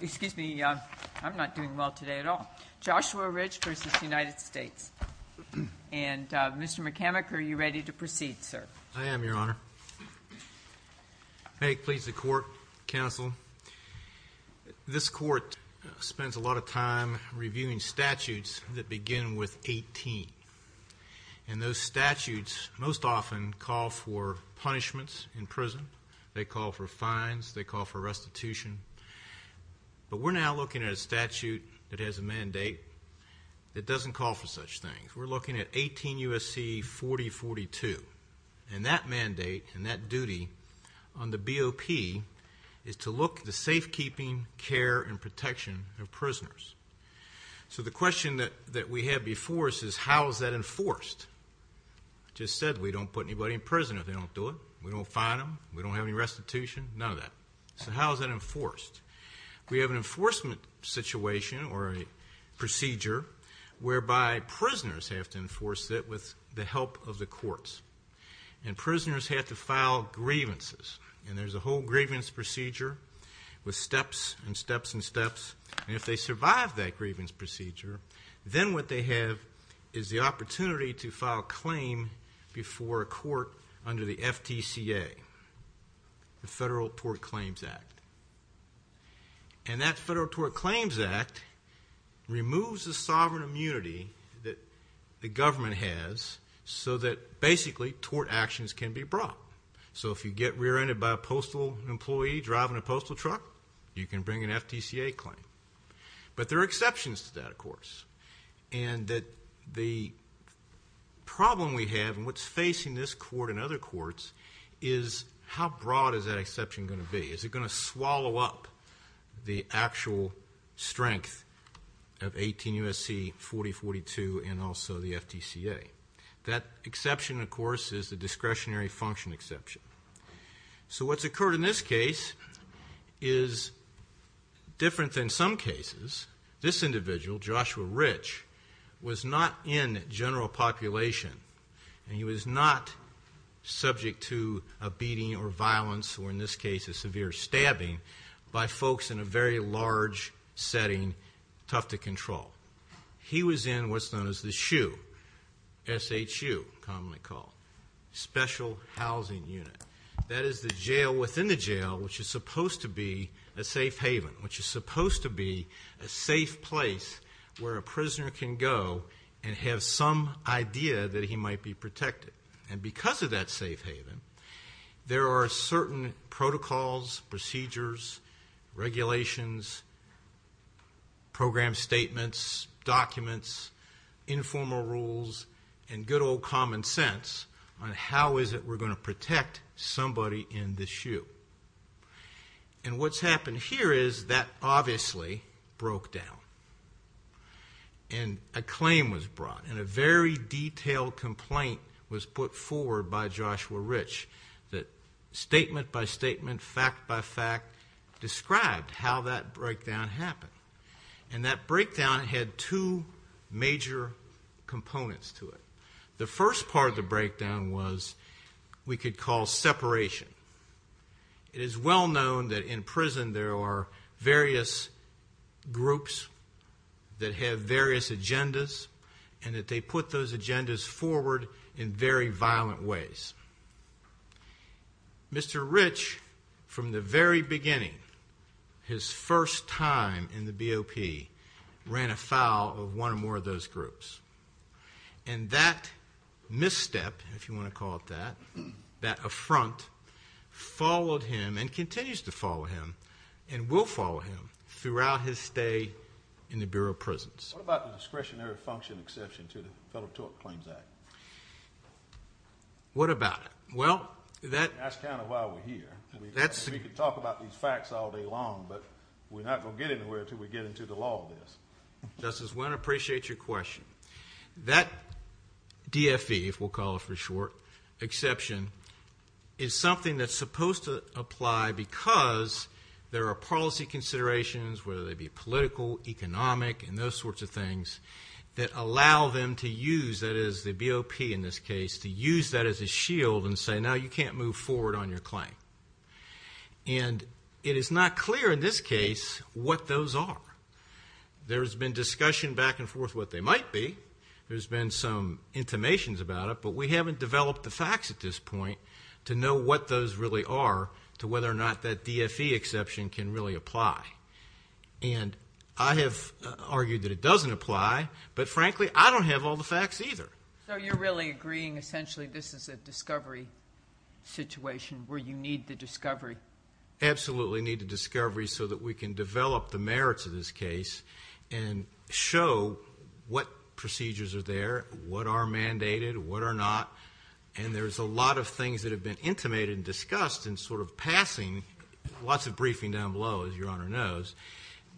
Excuse me, I'm not doing well today at all. Joshua Rich v. United States. And Mr. McCormick, are you ready to proceed, sir? I am, Your Honor. May it please the court, counsel. This court spends a lot of time reviewing statutes that begin with 18. And those statutes most often call for punishments in prison. They call for fines. They call for restitution. But we're now looking at a statute that has a mandate that doesn't call for such things. We're looking at 18 U.S.C. 4042. And that mandate and that duty on the BOP is to look at the safekeeping, care, and protection of prisoners. So the question that we have before us is how is that enforced? I just said we don't put anybody in prison if they don't do it. We don't fine them. We don't have any restitution. None of that. So how is that enforced? We have an enforcement situation or a procedure whereby prisoners have to enforce it with the help of the courts. And prisoners have to file grievances. And there's a whole grievance procedure with steps and steps and steps. And if they survive that grievance procedure, then what they have is the opportunity to file a claim before a court under the FTCA, the Federal Tort Claims Act. And that Federal Tort Claims Act removes the sovereign immunity that the government has so that basically tort actions can be brought. So if you get rear-ended by a postal employee driving a postal truck, you can bring an FTCA claim. But there are exceptions to that, of course. And that the problem we have and what's facing this court and other courts is how broad is that exception gonna be? Is it gonna swallow up the actual strength of 18 U.S.C. 4042 and also the FTCA? That exception, of course, is the discretionary function exception. So what's occurred in this case is different than some cases. This individual, Joshua Rich, was not in general population and he was not subject to a beating or violence or, in this case, a severe stabbing by folks in a very large setting, tough to control. He was in what's known as the SHU, S-H-U, commonly called, Special Housing Unit. That is the jail within the jail which is supposed to be a safe haven, which is supposed to be a safe place where a prisoner can go and have some idea that he might be protected. And because of that safe haven, there are certain protocols, procedures, regulations, program statements, documents, informal rules, and good old common sense on how is it we're gonna protect somebody in the SHU. And what's happened here is that obviously broke down. And a claim was brought and a very detailed complaint was put forward by Joshua Rich that statement by statement, fact by fact, described how that breakdown happened. And that breakdown had two major components to it. The first part of the breakdown was we could call separation. It is well known that in prison there are various groups that have various agendas and that they put those agendas forward in very violent ways. Mr. Rich, from the very beginning, his first time in the BOP, ran afoul of one or more of those groups. And that misstep, if you wanna call it that, that affront followed him and continues to follow him and will follow him throughout his stay in the Bureau of Prisons. What about the discretionary function exception to the Federal Tort Claims Act? What about it? Well, that- That's kind of why we're here. That's- We could talk about these facts all day long, but we're not gonna get anywhere till we get into the law of this. Justice Wynne, I appreciate your question. That DFE, if we'll call it for short, exception, is something that's supposed to apply because there are policy considerations, whether they be political, economic, and those sorts of things, that allow them to use, that is the BOP in this case, to use that as a shield and say, now you can't move forward on your claim. And it is not clear in this case what those are. There's been discussion back and forth what they might be. There's been some intimations about it, but we haven't developed the facts at this point to know what those really are, to whether or not that DFE exception can really apply. And I have argued that it doesn't apply, but frankly, I don't have all the facts either. So you're really agreeing, essentially, this is a discovery situation where you need the discovery? Absolutely need the discovery so that we can develop the merits of this case and show what procedures are there, what are mandated, what are not. And there's a lot of things that have been intimated and discussed and sort of passing, lots of briefing down below, as Your Honor knows,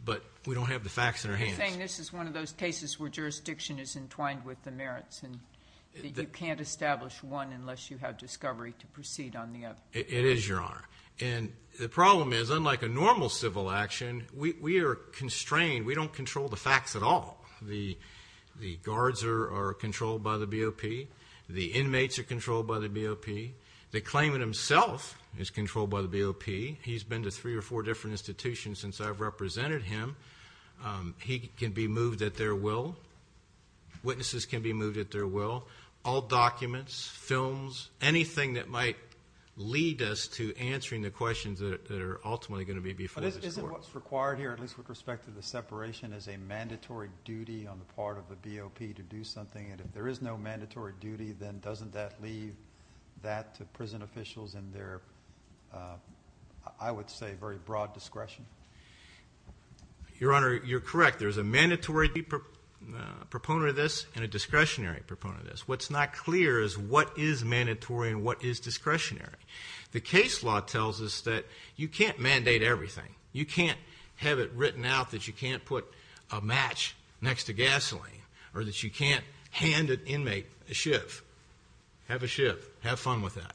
but we don't have the facts in our hands. You're saying this is one of those cases where jurisdiction is entwined with the merits and you can't establish one unless you have discovery to proceed on the other. It is, Your Honor. And the problem is, unlike a normal civil action, we are constrained, we don't control the facts at all. The guards are controlled by the BOP. The inmates are controlled by the BOP. The claimant himself is controlled by the BOP. He's been to three or four different institutions since I've represented him. He can be moved at their will. Witnesses can be moved at their will. All documents, films, anything that might lead us to answering the questions that are ultimately gonna be before this Court. But isn't what's required here, at least with respect to the separation, is a mandatory duty on the part of the BOP to do something? And if there is no mandatory duty, then doesn't that leave that to prison officials and their, I would say, very broad discretion? Your Honor, you're correct. There's a mandatory proponent of this and a discretionary proponent of this. What's not clear is what is mandatory and what is discretionary. The case law tells us that you can't mandate everything. You can't have it written out that you can't put a match next to gasoline or that you can't hand an inmate a shiv. Have a shiv. Have fun with that.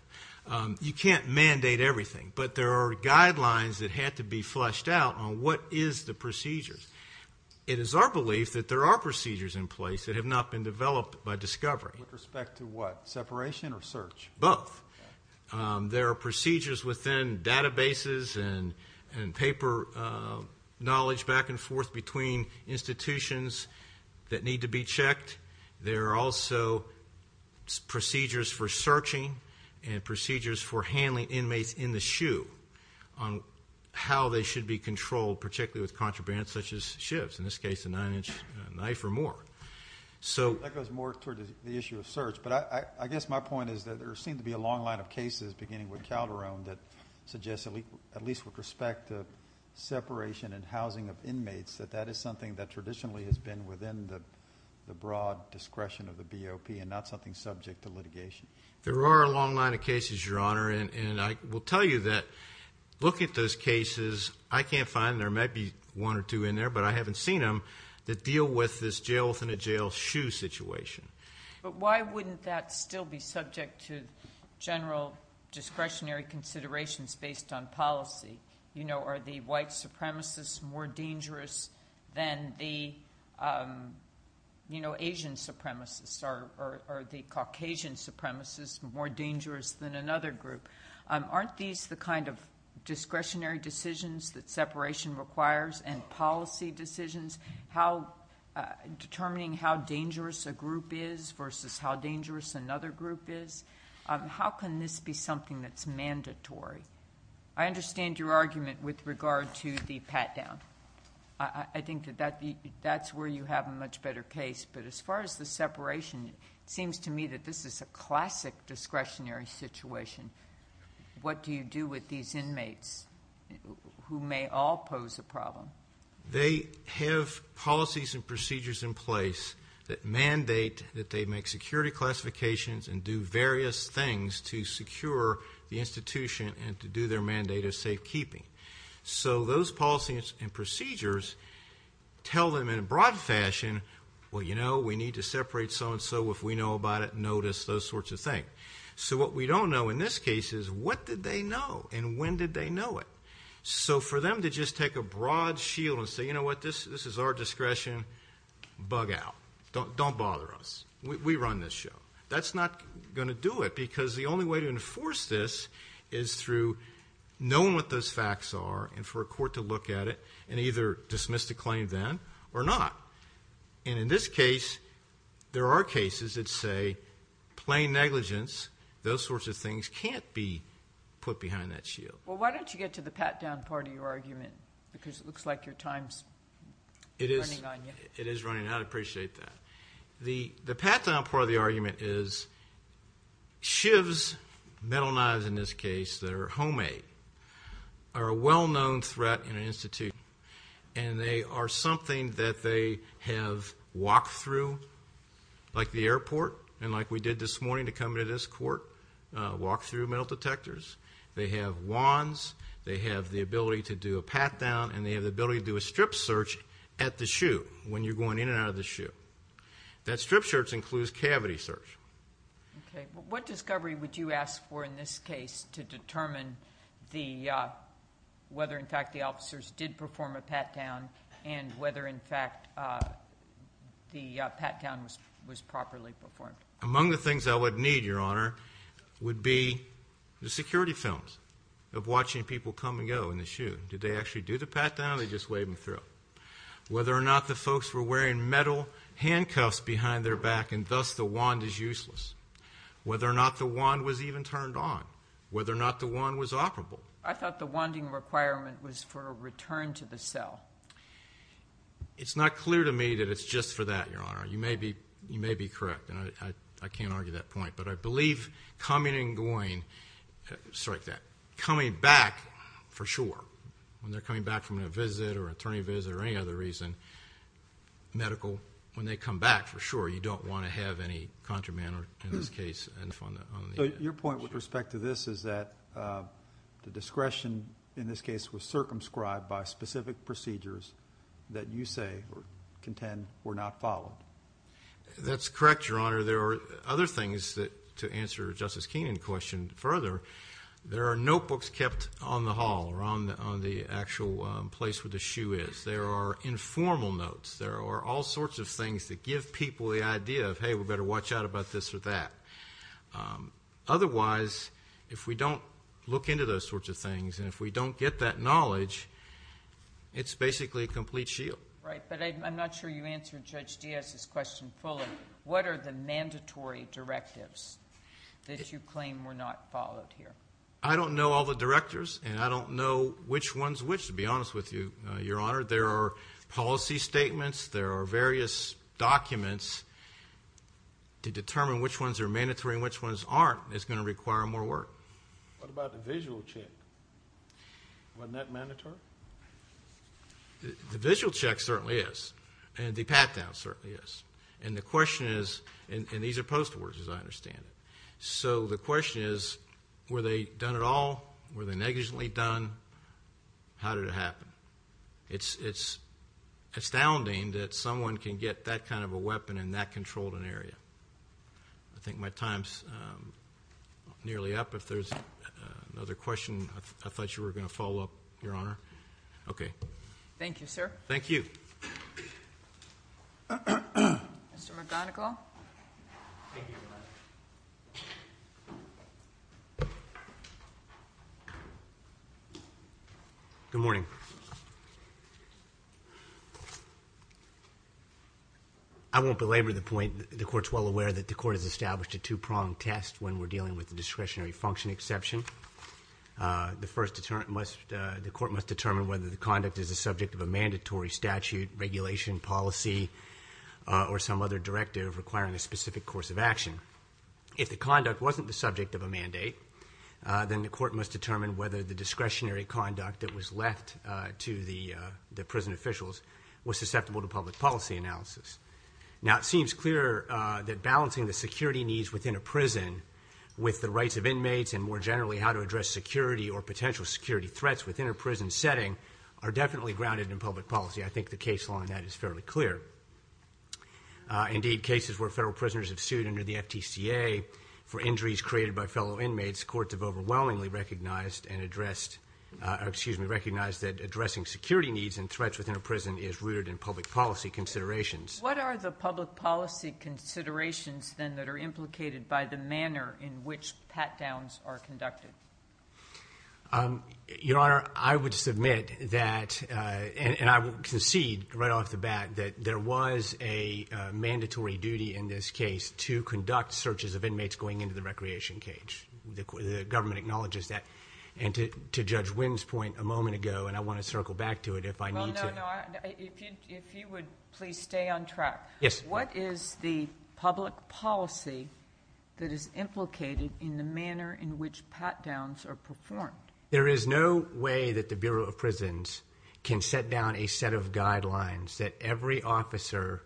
You can't mandate everything, but there are guidelines that had to be fleshed out on what is the procedures. It is our belief that there are procedures in place that have not been developed by discovery. With respect to what? Separation or search? Both. There are procedures within databases and paper knowledge back and forth between institutions that need to be checked. There are also procedures for searching and procedures for handling inmates in the shoe on how they should be controlled, particularly with contraband such as shivs, in this case, a nine-inch knife or more. So. That goes more toward the issue of search, but I guess my point is that there seems to be a long line of cases, beginning with Calderon, that suggests, at least with respect to separation and housing of inmates, that that is something that traditionally has been within the broad discretion of the BOP and not something subject to litigation. There are a long line of cases, Your Honor, and I will tell you that look at those cases. I can't find them. There might be one or two in there, but I haven't seen them that deal with this jail within a jail shoe situation. But why wouldn't that still be subject to general discretionary considerations based on policy? Are the white supremacists more dangerous than the Asian supremacists? Are the Caucasian supremacists more dangerous than another group? Aren't these the kind of discretionary decisions that separation requires and policy decisions? Determining how dangerous a group is versus how dangerous another group is, how can this be something that's mandatory? I understand your argument with regard to the pat-down. I think that that's where you have a much better case, but as far as the separation, it seems to me that this is a classic discretionary situation. What do you do with these inmates who may all pose a problem? They have policies and procedures in place that mandate that they make security classifications and do various things to secure the institution and to do their mandate of safekeeping. So those policies and procedures tell them in a broad fashion, well, you know, we need to separate so-and-so. If we know about it, notice those sorts of things. So what we don't know in this case is what did they know and when did they know it? So for them to just take a broad shield and say, you know what, this is our discretion, bug out. Don't bother us. We run this show. That's not gonna do it because the only way to enforce this is through knowing what those facts are and for a court to look at it and either dismiss the claim then or not. And in this case, there are cases that say plain negligence, those sorts of things can't be put behind that shield. Well, why don't you get to the pat-down part of your argument? Because it looks like your time's running on you. It is running. I'd appreciate that. The pat-down part of the argument is shivs, metal knives in this case that are homemade, are a well-known threat in an institute and they are something that they have walked through like the airport and like we did this morning to come into this court, walked through metal detectors. They have wands. They have the ability to do a pat-down and they have the ability to do a strip search at the shoe when you're going in and out of the shoe. That strip search includes cavity search. Okay, what discovery would you ask for in this case to determine whether in fact the officers did perform a pat-down and whether in fact the pat-down was properly performed? Among the things I would need, Your Honor, would be the security films of watching people come and go in the shoe. Did they actually do the pat-down or did they just wave them through? Whether or not the folks were wearing metal handcuffs behind their back and thus the wand is useless. Whether or not the wand was even turned on. Whether or not the wand was operable. I thought the wanding requirement was for a return to the cell. It's not clear to me that it's just for that, Your Honor. You may be correct and I can't argue that point but I believe coming and going, sorry, coming back for sure, when they're coming back from a visit or an attorney visit or any other reason, medical, when they come back for sure, you don't want to have any contraband in this case. Your point with respect to this is that the discretion in this case was circumscribed by specific procedures that you say or contend were not followed. That's correct, Your Honor. There are other things that, to answer Justice Keenan's question further, there are notebooks kept on the hall or on the actual place where the shoe is. There are informal notes. There are all sorts of things that give people the idea of hey, we better watch out about this or that. Otherwise, if we don't look into those sorts of things and if we don't get that knowledge, it's basically a complete shield. Right, but I'm not sure you answered Judge Diaz's question fully. What are the mandatory directives that you claim were not followed here? I don't know all the directors and I don't know which ones which, to be honest with you, Your Honor. There are policy statements. There are various documents to determine which ones are mandatory and which ones aren't. It's gonna require more work. What about the visual check? Wasn't that mandatory? The visual check certainly is and the pat-down certainly is. And the question is, and these are post-wars as I understand it. So the question is, were they done at all? Were they negligently done? How did it happen? It's astounding that someone can get that kind of a weapon in that controlled an area. I think my time's nearly up. If there's another question, I thought you were gonna follow up, Your Honor. Okay. Thank you, sir. Thank you. Mr. McGonigal. Good morning. I won't belabor the point. The court's well aware that the court has established a two-pronged test when we're dealing with the discretionary function exception. The court must determine whether the conduct is a subject of a mandatory statute, regulation, policy, or some other directive requiring a specific course of action. If the conduct wasn't the subject of a mandate, then the court must determine whether the discretionary conduct that was left to the prison officials was susceptible to public policy analysis. Now it seems clear that balancing the security needs within a prison with the rights of inmates and more generally how to address security or potential security threats within a prison setting are definitely grounded in public policy. I think the case law on that is fairly clear. Indeed, cases where federal prisoners have sued under the FTCA for injuries created by fellow inmates, courts have overwhelmingly recognized and addressed, excuse me, recognized that addressing security needs and threats within a prison is rooted in public policy considerations. What are the public policy considerations, then, that are implicated by the manner in which pat-downs are conducted? Your Honor, I would submit that, and I would concede right off the bat that there was a mandatory duty in this case to conduct searches of inmates going into the recreation cage. The government acknowledges that. And to Judge Wynn's point a moment ago, and I want to circle back to it if I need to. Well, no, no, if you would please stay on track. Yes. What is the public policy that is implicated in the manner in which pat-downs are performed? There is no way that the Bureau of Prisons can set down a set of guidelines that every officer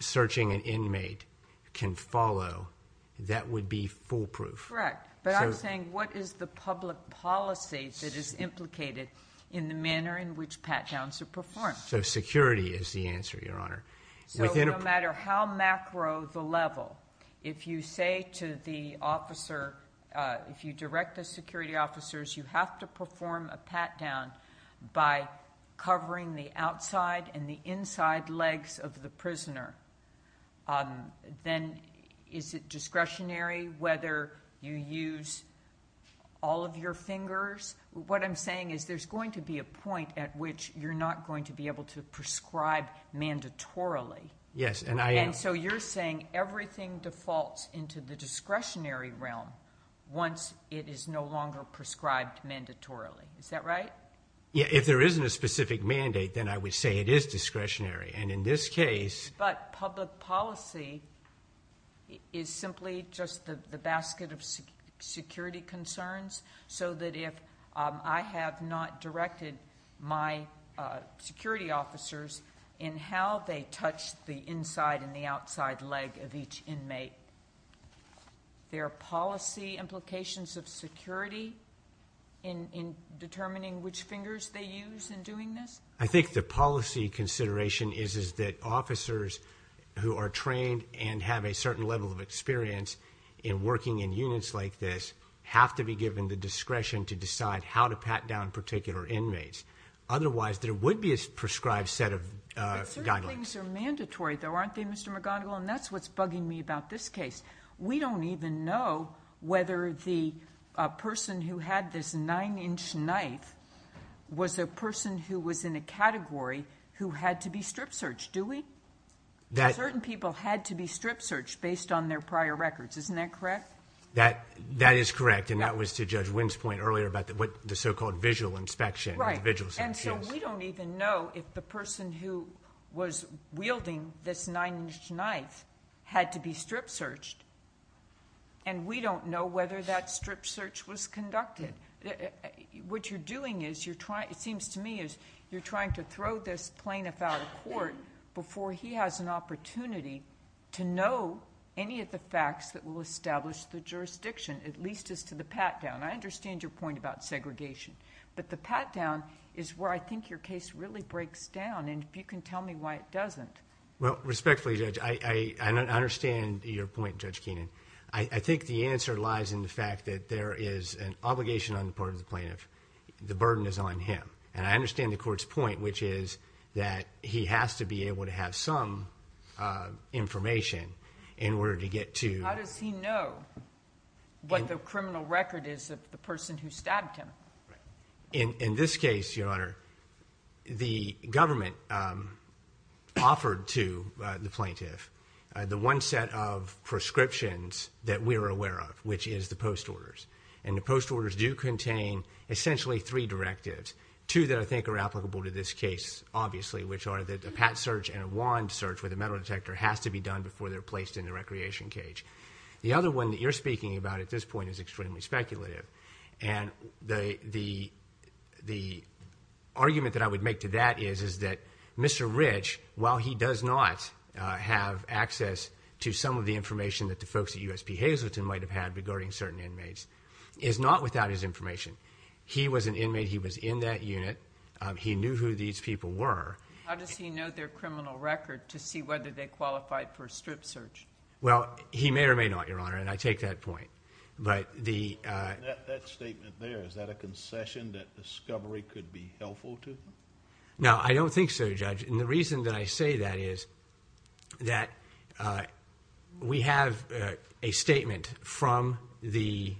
searching an inmate can follow. That would be foolproof. Correct. But I'm saying what is the public policy that is implicated in the manner in which pat-downs are performed? So security is the answer, Your Honor. So no matter how macro the level, if you say to the officer, if you direct the security officers, you have to perform a pat-down by covering the outside and the inside legs of the prisoner. Then is it discretionary whether you use all of your fingers? What I'm saying is there's going to be a point at which you're not going to be able to prescribe mandatorily. Yes, and I am. And so you're saying everything defaults to the discretionary realm once it is no longer prescribed mandatorily. Is that right? Yeah, if there isn't a specific mandate, then I would say it is discretionary. And in this case- But public policy is simply just the basket of security concerns. So that if I have not directed my security officers in how they touch the inside and the outside leg of each inmate, their policy implications of security in determining which fingers they use in doing this? I think the policy consideration is that officers who are trained and have a certain level of experience in working in units like this have to be given the discretion to decide how to pat down particular inmates. Otherwise, there would be a prescribed set of guidelines. But certain things are mandatory, though, aren't they, Mr. McGonigal? And that's what's bugging me about this case. We don't even know whether the person who had this nine-inch knife was a person who was in a category who had to be strip searched, do we? Certain people had to be strip searched based on their prior records, isn't that correct? That is correct. And that was to Judge Wynn's point earlier about what the so-called visual inspection, the visual inspection is. And so we don't even know if the person who was wielding this nine-inch knife had to be strip searched. And we don't know whether that strip search was conducted. What you're doing is, it seems to me, is you're trying to throw this plaintiff out of court before he has an opportunity to know any of the facts that will establish the jurisdiction, at least as to the pat-down. I understand your point about segregation. But the pat-down is where I think your case really breaks down. And if you can tell me why it doesn't. Well, respectfully, Judge, I understand your point, Judge Keenan. I think the answer lies in the fact that there is an obligation on the part of the plaintiff. The burden is on him. And I understand the court's point, which is that he has to be able to have some information in order to get to- How does he know what the criminal record is of the person who stabbed him? In this case, Your Honor, the government offered to the plaintiff the one set of prescriptions that we're aware of, which is the post-orders. And the post-orders do contain, essentially, three directives. Two that I think are applicable to this case, obviously, which are that a pat search and a wand search with a metal detector has to be done before they're placed in the recreation cage. The other one that you're speaking about at this point is extremely speculative. And the argument that I would make to that is, is that Mr. Rich, while he does not have access to some of the information that the folks at USP Hazleton might have had regarding certain inmates, is not without his information. He was an inmate. He was in that unit. He knew who these people were. How does he know their criminal record to see whether they qualified for a strip search? Well, he may or may not, Your Honor, and I take that point. But the... That statement there, is that a concession that discovery could be helpful to them? No, I don't think so, Judge. And the reason that I say that is that we have a statement from the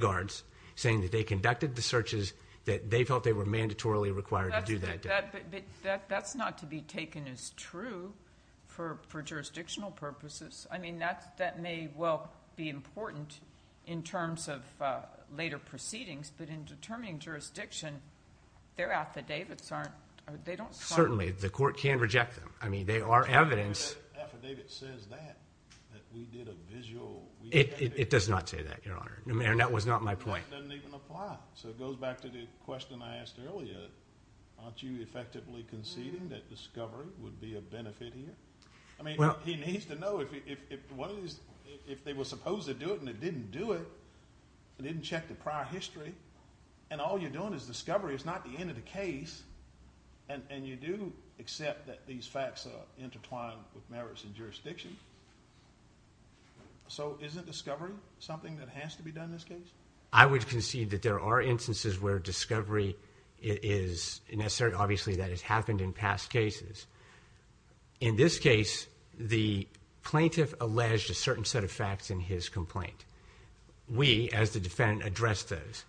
guards saying that they conducted the searches, that they felt they were mandatorily required to do that. But that's not to be taken as true for jurisdictional purposes. I mean, that may well be important in terms of later proceedings, but in determining jurisdiction, their affidavits aren't, they don't... Certainly, the court can reject them. I mean, they are evidence. Affidavit says that, that we did a visual... It does not say that, Your Honor. No, ma'am, that was not my point. Doesn't even apply. So it goes back to the question I asked earlier. Aren't you effectively conceding that discovery would be a benefit here? I mean, he needs to know if one of these, if they were supposed to do it and they didn't do it, they didn't check the prior history, and all you're doing is discovery, it's not the end of the case, and you do accept that these facts are intertwined with merits and jurisdiction. So isn't discovery something that has to be done in this case? I would concede that there are instances where discovery is necessary. Obviously, that has happened in past cases. In this case, the plaintiff alleged a certain set of facts in his complaint. We, as the defendant, addressed those.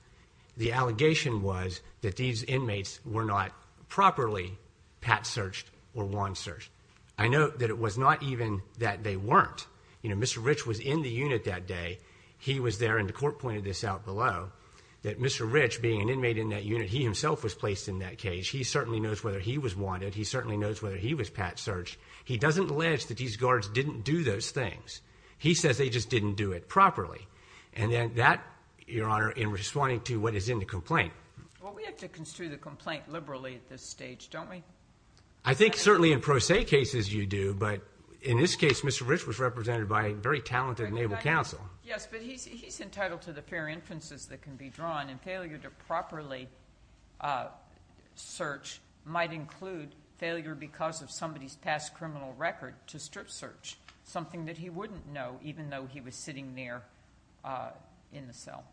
The allegation was that these inmates were not properly pat-searched or wand-searched. I note that it was not even that they weren't. You know, Mr. Rich was in the unit that day. He was there, and the court pointed this out below, that Mr. Rich, being an inmate in that unit, he himself was placed in that case. He certainly knows whether he was wanted. He certainly knows whether he was pat-searched. He doesn't allege that these guards didn't do those things. He says they just didn't do it properly. And that, Your Honor, in responding to what is in the complaint. Well, we have to construe the complaint liberally at this stage, don't we? I think certainly in pro se cases you do, but in this case, Mr. Rich was represented by a very talented and able counsel. Yes, but he's entitled to the fair inferences that can be drawn, and failure to properly search might include failure because of somebody's past criminal record to strip-search, something that he wouldn't know even though he was sitting there in the cell.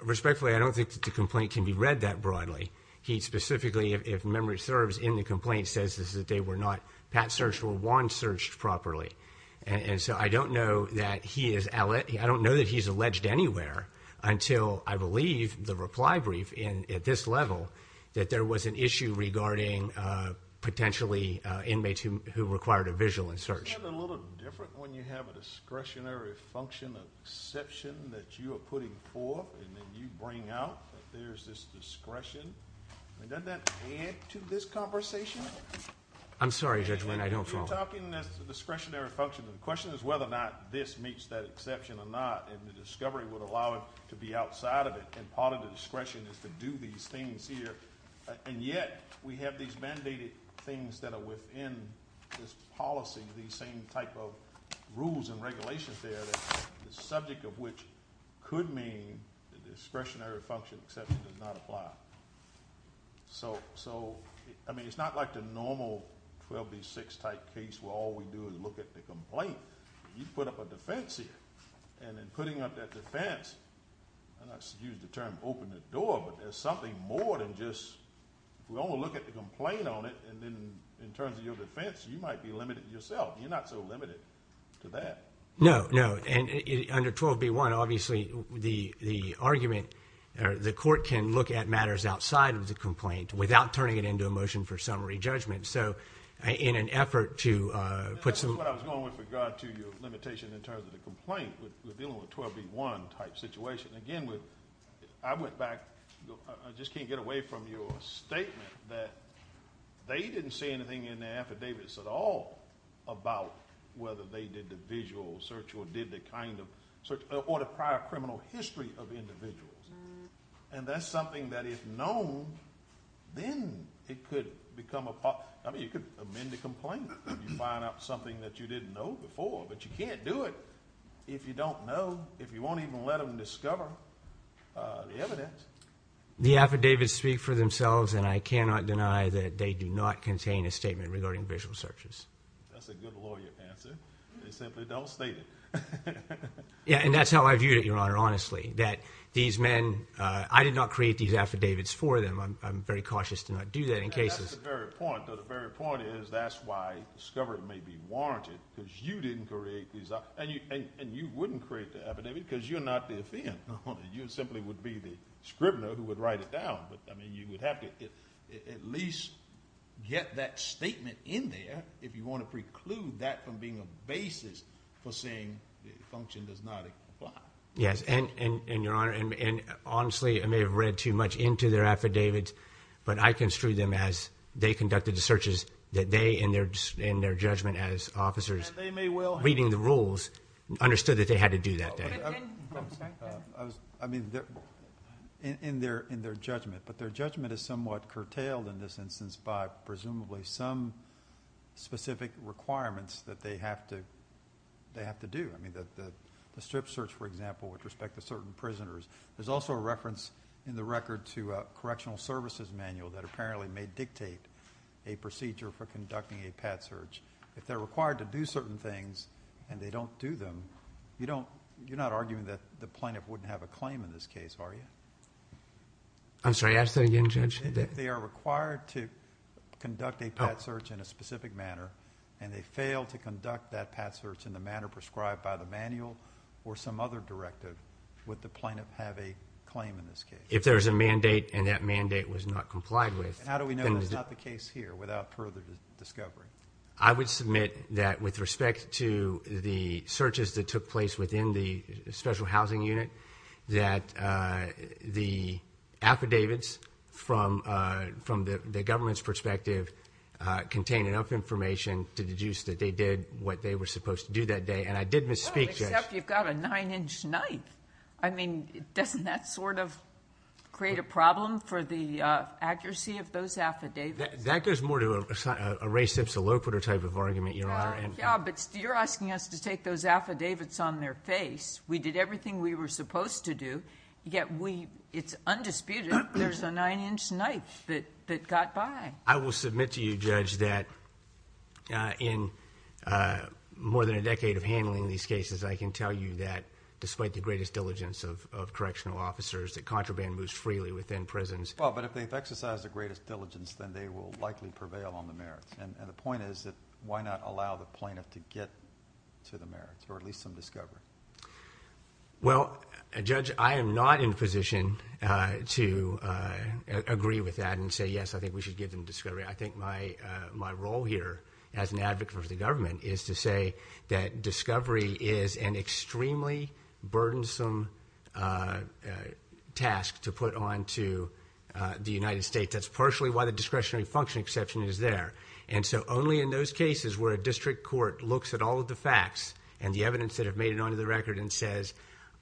Respectfully, I don't think that the complaint can be read that broadly. He specifically, if memory serves, in the complaint says that they were not pat-searched or wand-searched properly. And so I don't know that he is, I don't know that he's alleged anywhere until, I believe, the reply brief at this level that there was an issue regarding potentially inmates who required a visual in-search. Isn't that a little different when you have a discretionary function of exception that you are putting forth and then you bring out? There's this discretion. And doesn't that add to this conversation? I'm sorry, Judge Wynn, I don't follow. And you're talking, that's the discretionary function. The question is whether or not this meets that exception or not, and the discovery would allow it to be outside of it, and part of the discretion is to do these things, and yet we have these mandated things that are within this policy, these same type of rules and regulations there that the subject of which could mean the discretionary function exception does not apply. So, I mean, it's not like the normal 12B6 type case where all we do is look at the complaint. You put up a defense here, and in putting up that defense, and I use the term open the door, but there's something more than just, if we only look at the complaint on it, and then in terms of your defense, you might be limited yourself. You're not so limited to that. No, no, and under 12B1, obviously the argument, the court can look at matters outside of the complaint without turning it into a motion for summary judgment. So, in an effort to put some. That's what I was going with regard to your limitation in terms of the complaint, with dealing with 12B1 type situation. Again, I went back, I just can't get away from your statement that they didn't say anything in their affidavits at all about whether they did the visual search or did the kind of search, or the prior criminal history of individuals. And that's something that if known, then it could become a part, I mean, you could amend the complaint if you find out something that you didn't know before, but you can't do it if you don't know, if you won't even let them discover the evidence. The affidavits speak for themselves, and I cannot deny that they do not contain a statement regarding visual searches. That's a good lawyer answer. They simply don't state it. Yeah, and that's how I viewed it, Your Honor, honestly, that these men, I did not create these affidavits for them. I'm very cautious to not do that in cases. That's the very point, though the very point is that's why discovery may be warranted, because you didn't create these, and you wouldn't create the affidavit because you're not the offender. You simply would be the scrivener who would write it down, but I mean, you would have to at least get that statement in there if you want to preclude that from being a basis for saying the function does not apply. Yes, and Your Honor, and honestly, I may have read too much into their affidavits, but I construed them as they conducted the searches that they, in their judgment as officers, reading the rules, understood that they had to do that. I mean, in their judgment, but their judgment is somewhat curtailed in this instance by presumably some specific requirements that they have to do. I mean, the strip search, for example, with respect to certain prisoners, there's also a reference in the record to a correctional services manual that apparently may dictate a procedure for conducting a pad search. If they're required to do certain things and they don't do them, you're not arguing that the plaintiff wouldn't have a claim in this case, are you? I'm sorry, ask that again, Judge. If they are required to conduct a pad search in a specific manner and they fail to conduct that pad search in the manner prescribed by the manual or some other directive, would the plaintiff have a claim in this case? If there's a mandate and that mandate was not complied with. How do we know that's not the case here without further discovery? I would submit that with respect to the searches that took place within the special housing unit, that the affidavits from the government's perspective contain enough information to deduce that they did what they were supposed to do that day. And I did misspeak, Judge. Well, except you've got a nine-inch knife. I mean, doesn't that sort of create a problem for the accuracy of those affidavits? That goes more to a race-sips-a-low-pitter type of argument, Your Honor. Yeah, but you're asking us to take those affidavits on their face. We did everything we were supposed to do, yet it's undisputed there's a nine-inch knife that got by. I will submit to you, Judge, that in more than a decade of handling these cases, I can tell you that despite the greatest diligence of correctional officers, that contraband moves freely within prisons. Well, but if they've exercised the greatest diligence, then they will likely prevail on the merits. And the point is that why not allow the plaintiff to get to the merits, or at least some discovery? Well, Judge, I am not in position to agree with that and say, yes, I think we should give them discovery. I think my role here as an advocate for the government is to say that discovery is an extremely burdensome task to put onto the United States. That's partially why the discretionary function exception is there. And so only in those cases where a district court looks at all of the facts and the evidence that have made it onto the record and says,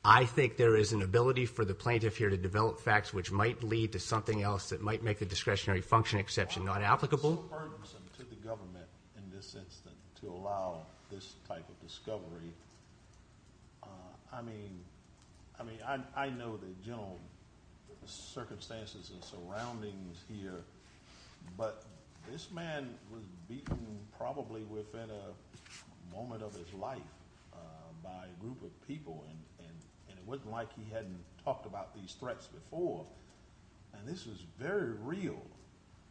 I think there is an ability for the plaintiff here to develop facts which might lead to something else that might make the discretionary function exception not applicable. It's so burdensome to the government in this instance to allow this type of discovery. I mean, I know the general circumstances and surroundings here, but this man was beaten probably within a moment of his life by a group of people. And it wasn't like he hadn't talked about these threats before. And this was very real.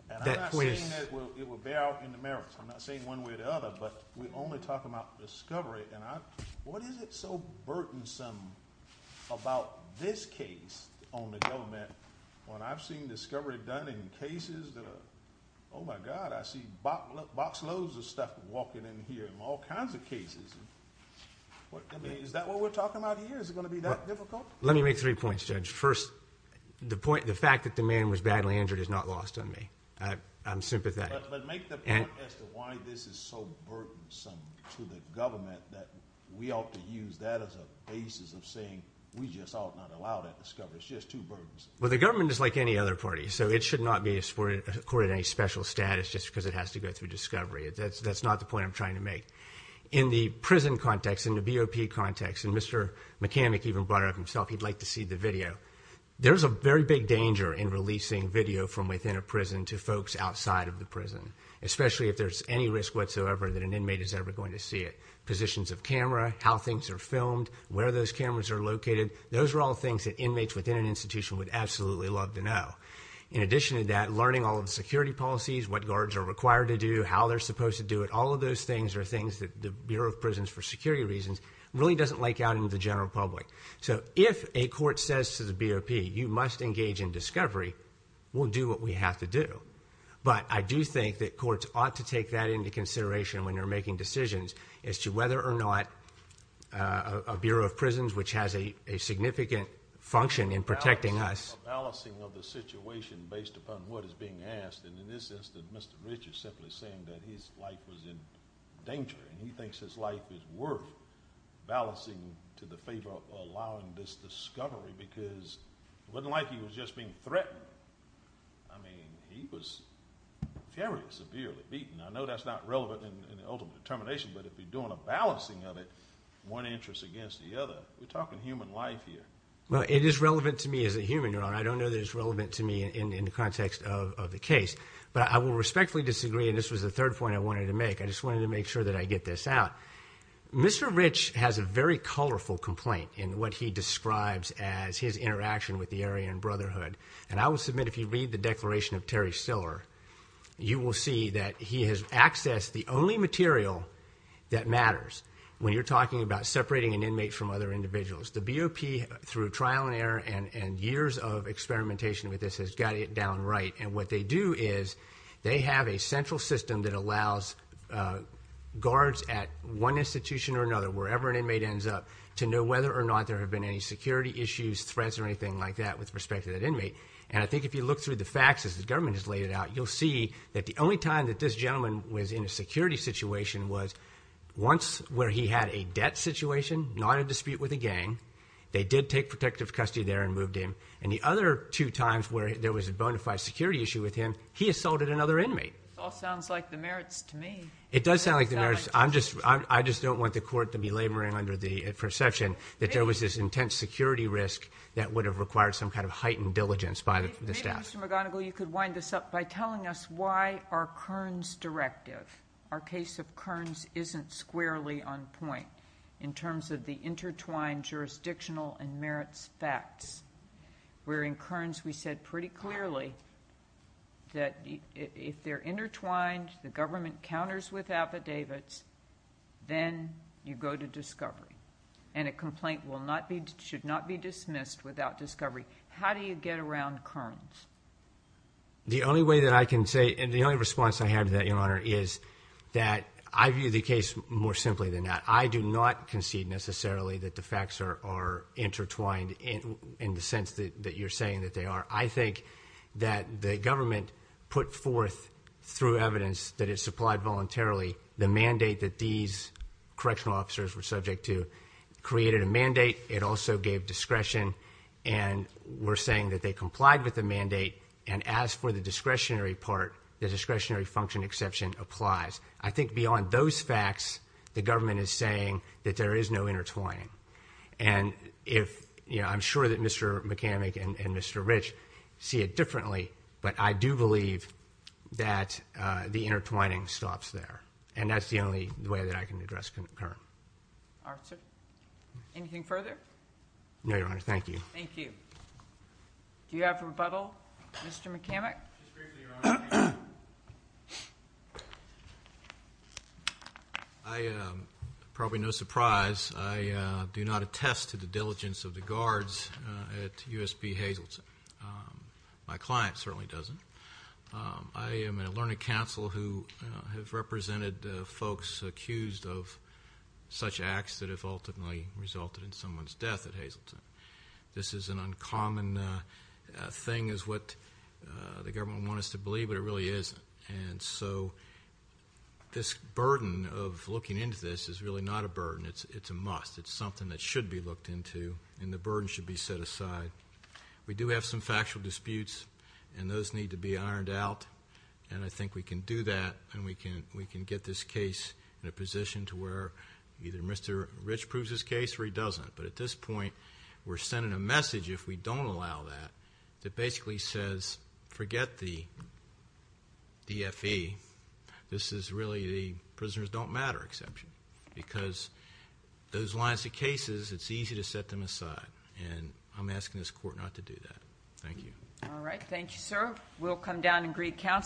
And I'm not saying that it will bear out in the merits. I'm not saying one way or the other, but we only talk about discovery. And what is it so burdensome about this case on the government, when I've seen discovery done in cases that are, oh my God, I see box loads of stuff walking in here in all kinds of cases. What, I mean, is that what we're talking about here? Is it gonna be that difficult? Let me make three points, Judge. First, the point, the fact that the man was badly injured is not lost on me. I'm sympathetic. But make the point as to why this is so burdensome to the government that we ought to use that as a basis of saying, we just ought not allow that discovery. It's just too burdensome. Well, the government is like any other party. So it should not be accorded any special status just because it has to go through discovery. That's not the point I'm trying to make. In the prison context, in the BOP context, and Mr. McCann even brought it up himself, he'd like to see the video. There's a very big danger in releasing video from within a prison to folks outside of the prison, especially if there's any risk whatsoever that an inmate is ever going to see it. Positions of camera, how things are filmed, where those cameras are located, those are all things that inmates within an institution would absolutely love to know. In addition to that, learning all of the security policies, what guards are required to do, how they're supposed to do it, all of those things are things that the Bureau of Prisons for security reasons really doesn't like out in the general public. So if a court says to the BOP, you must engage in discovery, we'll do what we have to do. But I do think that courts ought to take that into consideration when they're making decisions as to whether or not a Bureau of Prisons, which has a significant function in protecting us. Balancing of the situation based upon what is being asked. And in this instance, Mr. Rich is simply saying that his life was in danger and he thinks his life is worth balancing to the favor of allowing this discovery because it wasn't like he was just being threatened. I mean, he was very severely beaten. I know that's not relevant in the ultimate determination, but if you're doing a balancing of it, one interest against the other, we're talking human life here. Well, it is relevant to me as a human, and I don't know that it's relevant to me in the context of the case, but I will respectfully disagree. And this was the third point I wanted to make. I just wanted to make sure that I get this out. Mr. Rich has a very colorful complaint in what he describes as his interaction with the Aryan Brotherhood. And I will submit, if you read the declaration of Terry Stiller, you will see that he has accessed the only material that matters when you're talking about separating an inmate from other individuals. The BOP, through trial and error and years of experimentation with this, has got it down right. And what they do is they have a central system that allows guards at one institution or another, wherever an inmate ends up, to know whether or not there have been any security issues, threats, or anything like that with respect to that inmate. And I think if you look through the facts as the government has laid it out, you'll see that the only time that this gentleman was in a security situation was once where he had a debt situation, not a dispute with a gang. They did take protective custody there and moved him. And the other two times where there was a bona fide security issue with him, he assaulted another inmate. It all sounds like the merits to me. It does sound like the merits. I just don't want the court to be laboring under the perception that there was this intense security risk that would have required some kind of heightened diligence by the staff. Mr. McGonigal, you could wind this up by telling us why our Kearns directive, our case of Kearns isn't squarely on point in terms of the intertwined jurisdictional and merits facts. Where in Kearns we said pretty clearly that if they're intertwined, the government counters with affidavits, then you go to discovery. And a complaint should not be dismissed without discovery. How do you get around Kearns? The only way that I can say, and the only response I had to that, Your Honor, is that I view the case more simply than that. I do not concede necessarily that the facts are intertwined in the sense that you're saying that they are. I think that the government put forth through evidence that it supplied voluntarily the mandate that these correctional officers were subject to created a mandate. It also gave discretion. And we're saying that they complied with the mandate. And as for the discretionary part, the discretionary function exception applies. I think beyond those facts, the government is saying that there is no intertwining. And I'm sure that Mr. McCann and Mr. Rich see it differently, but I do believe that the intertwining stops there. And that's the only way that I can address Kearns. All right, sir. Anything further? No, Your Honor, thank you. Thank you. Do you have rebuttal, Mr. McCann? I, probably no surprise, I do not attest to the diligence of the guards at USP Hazleton. My client certainly doesn't. I am in a learning council who have represented folks accused of such acts that have ultimately resulted in someone's death at Hazleton. This is an uncommon thing is what the government want us to believe, but it really isn't. And so this burden of looking into this is really not a burden, it's a must. It's something that should be looked into and the burden should be set aside. We do have some factual disputes and those need to be ironed out. And I think we can do that and we can get this case in a position to where either Mr. Rich proves his case or he doesn't, but at this point, we're sending a message if we don't allow that, that basically says, forget the DFE. This is really the prisoners don't matter exception because those lines of cases, it's easy to set them aside. And I'm asking this court not to do that. Thank you. All right, thank you, sir. We'll come down and agree counsel.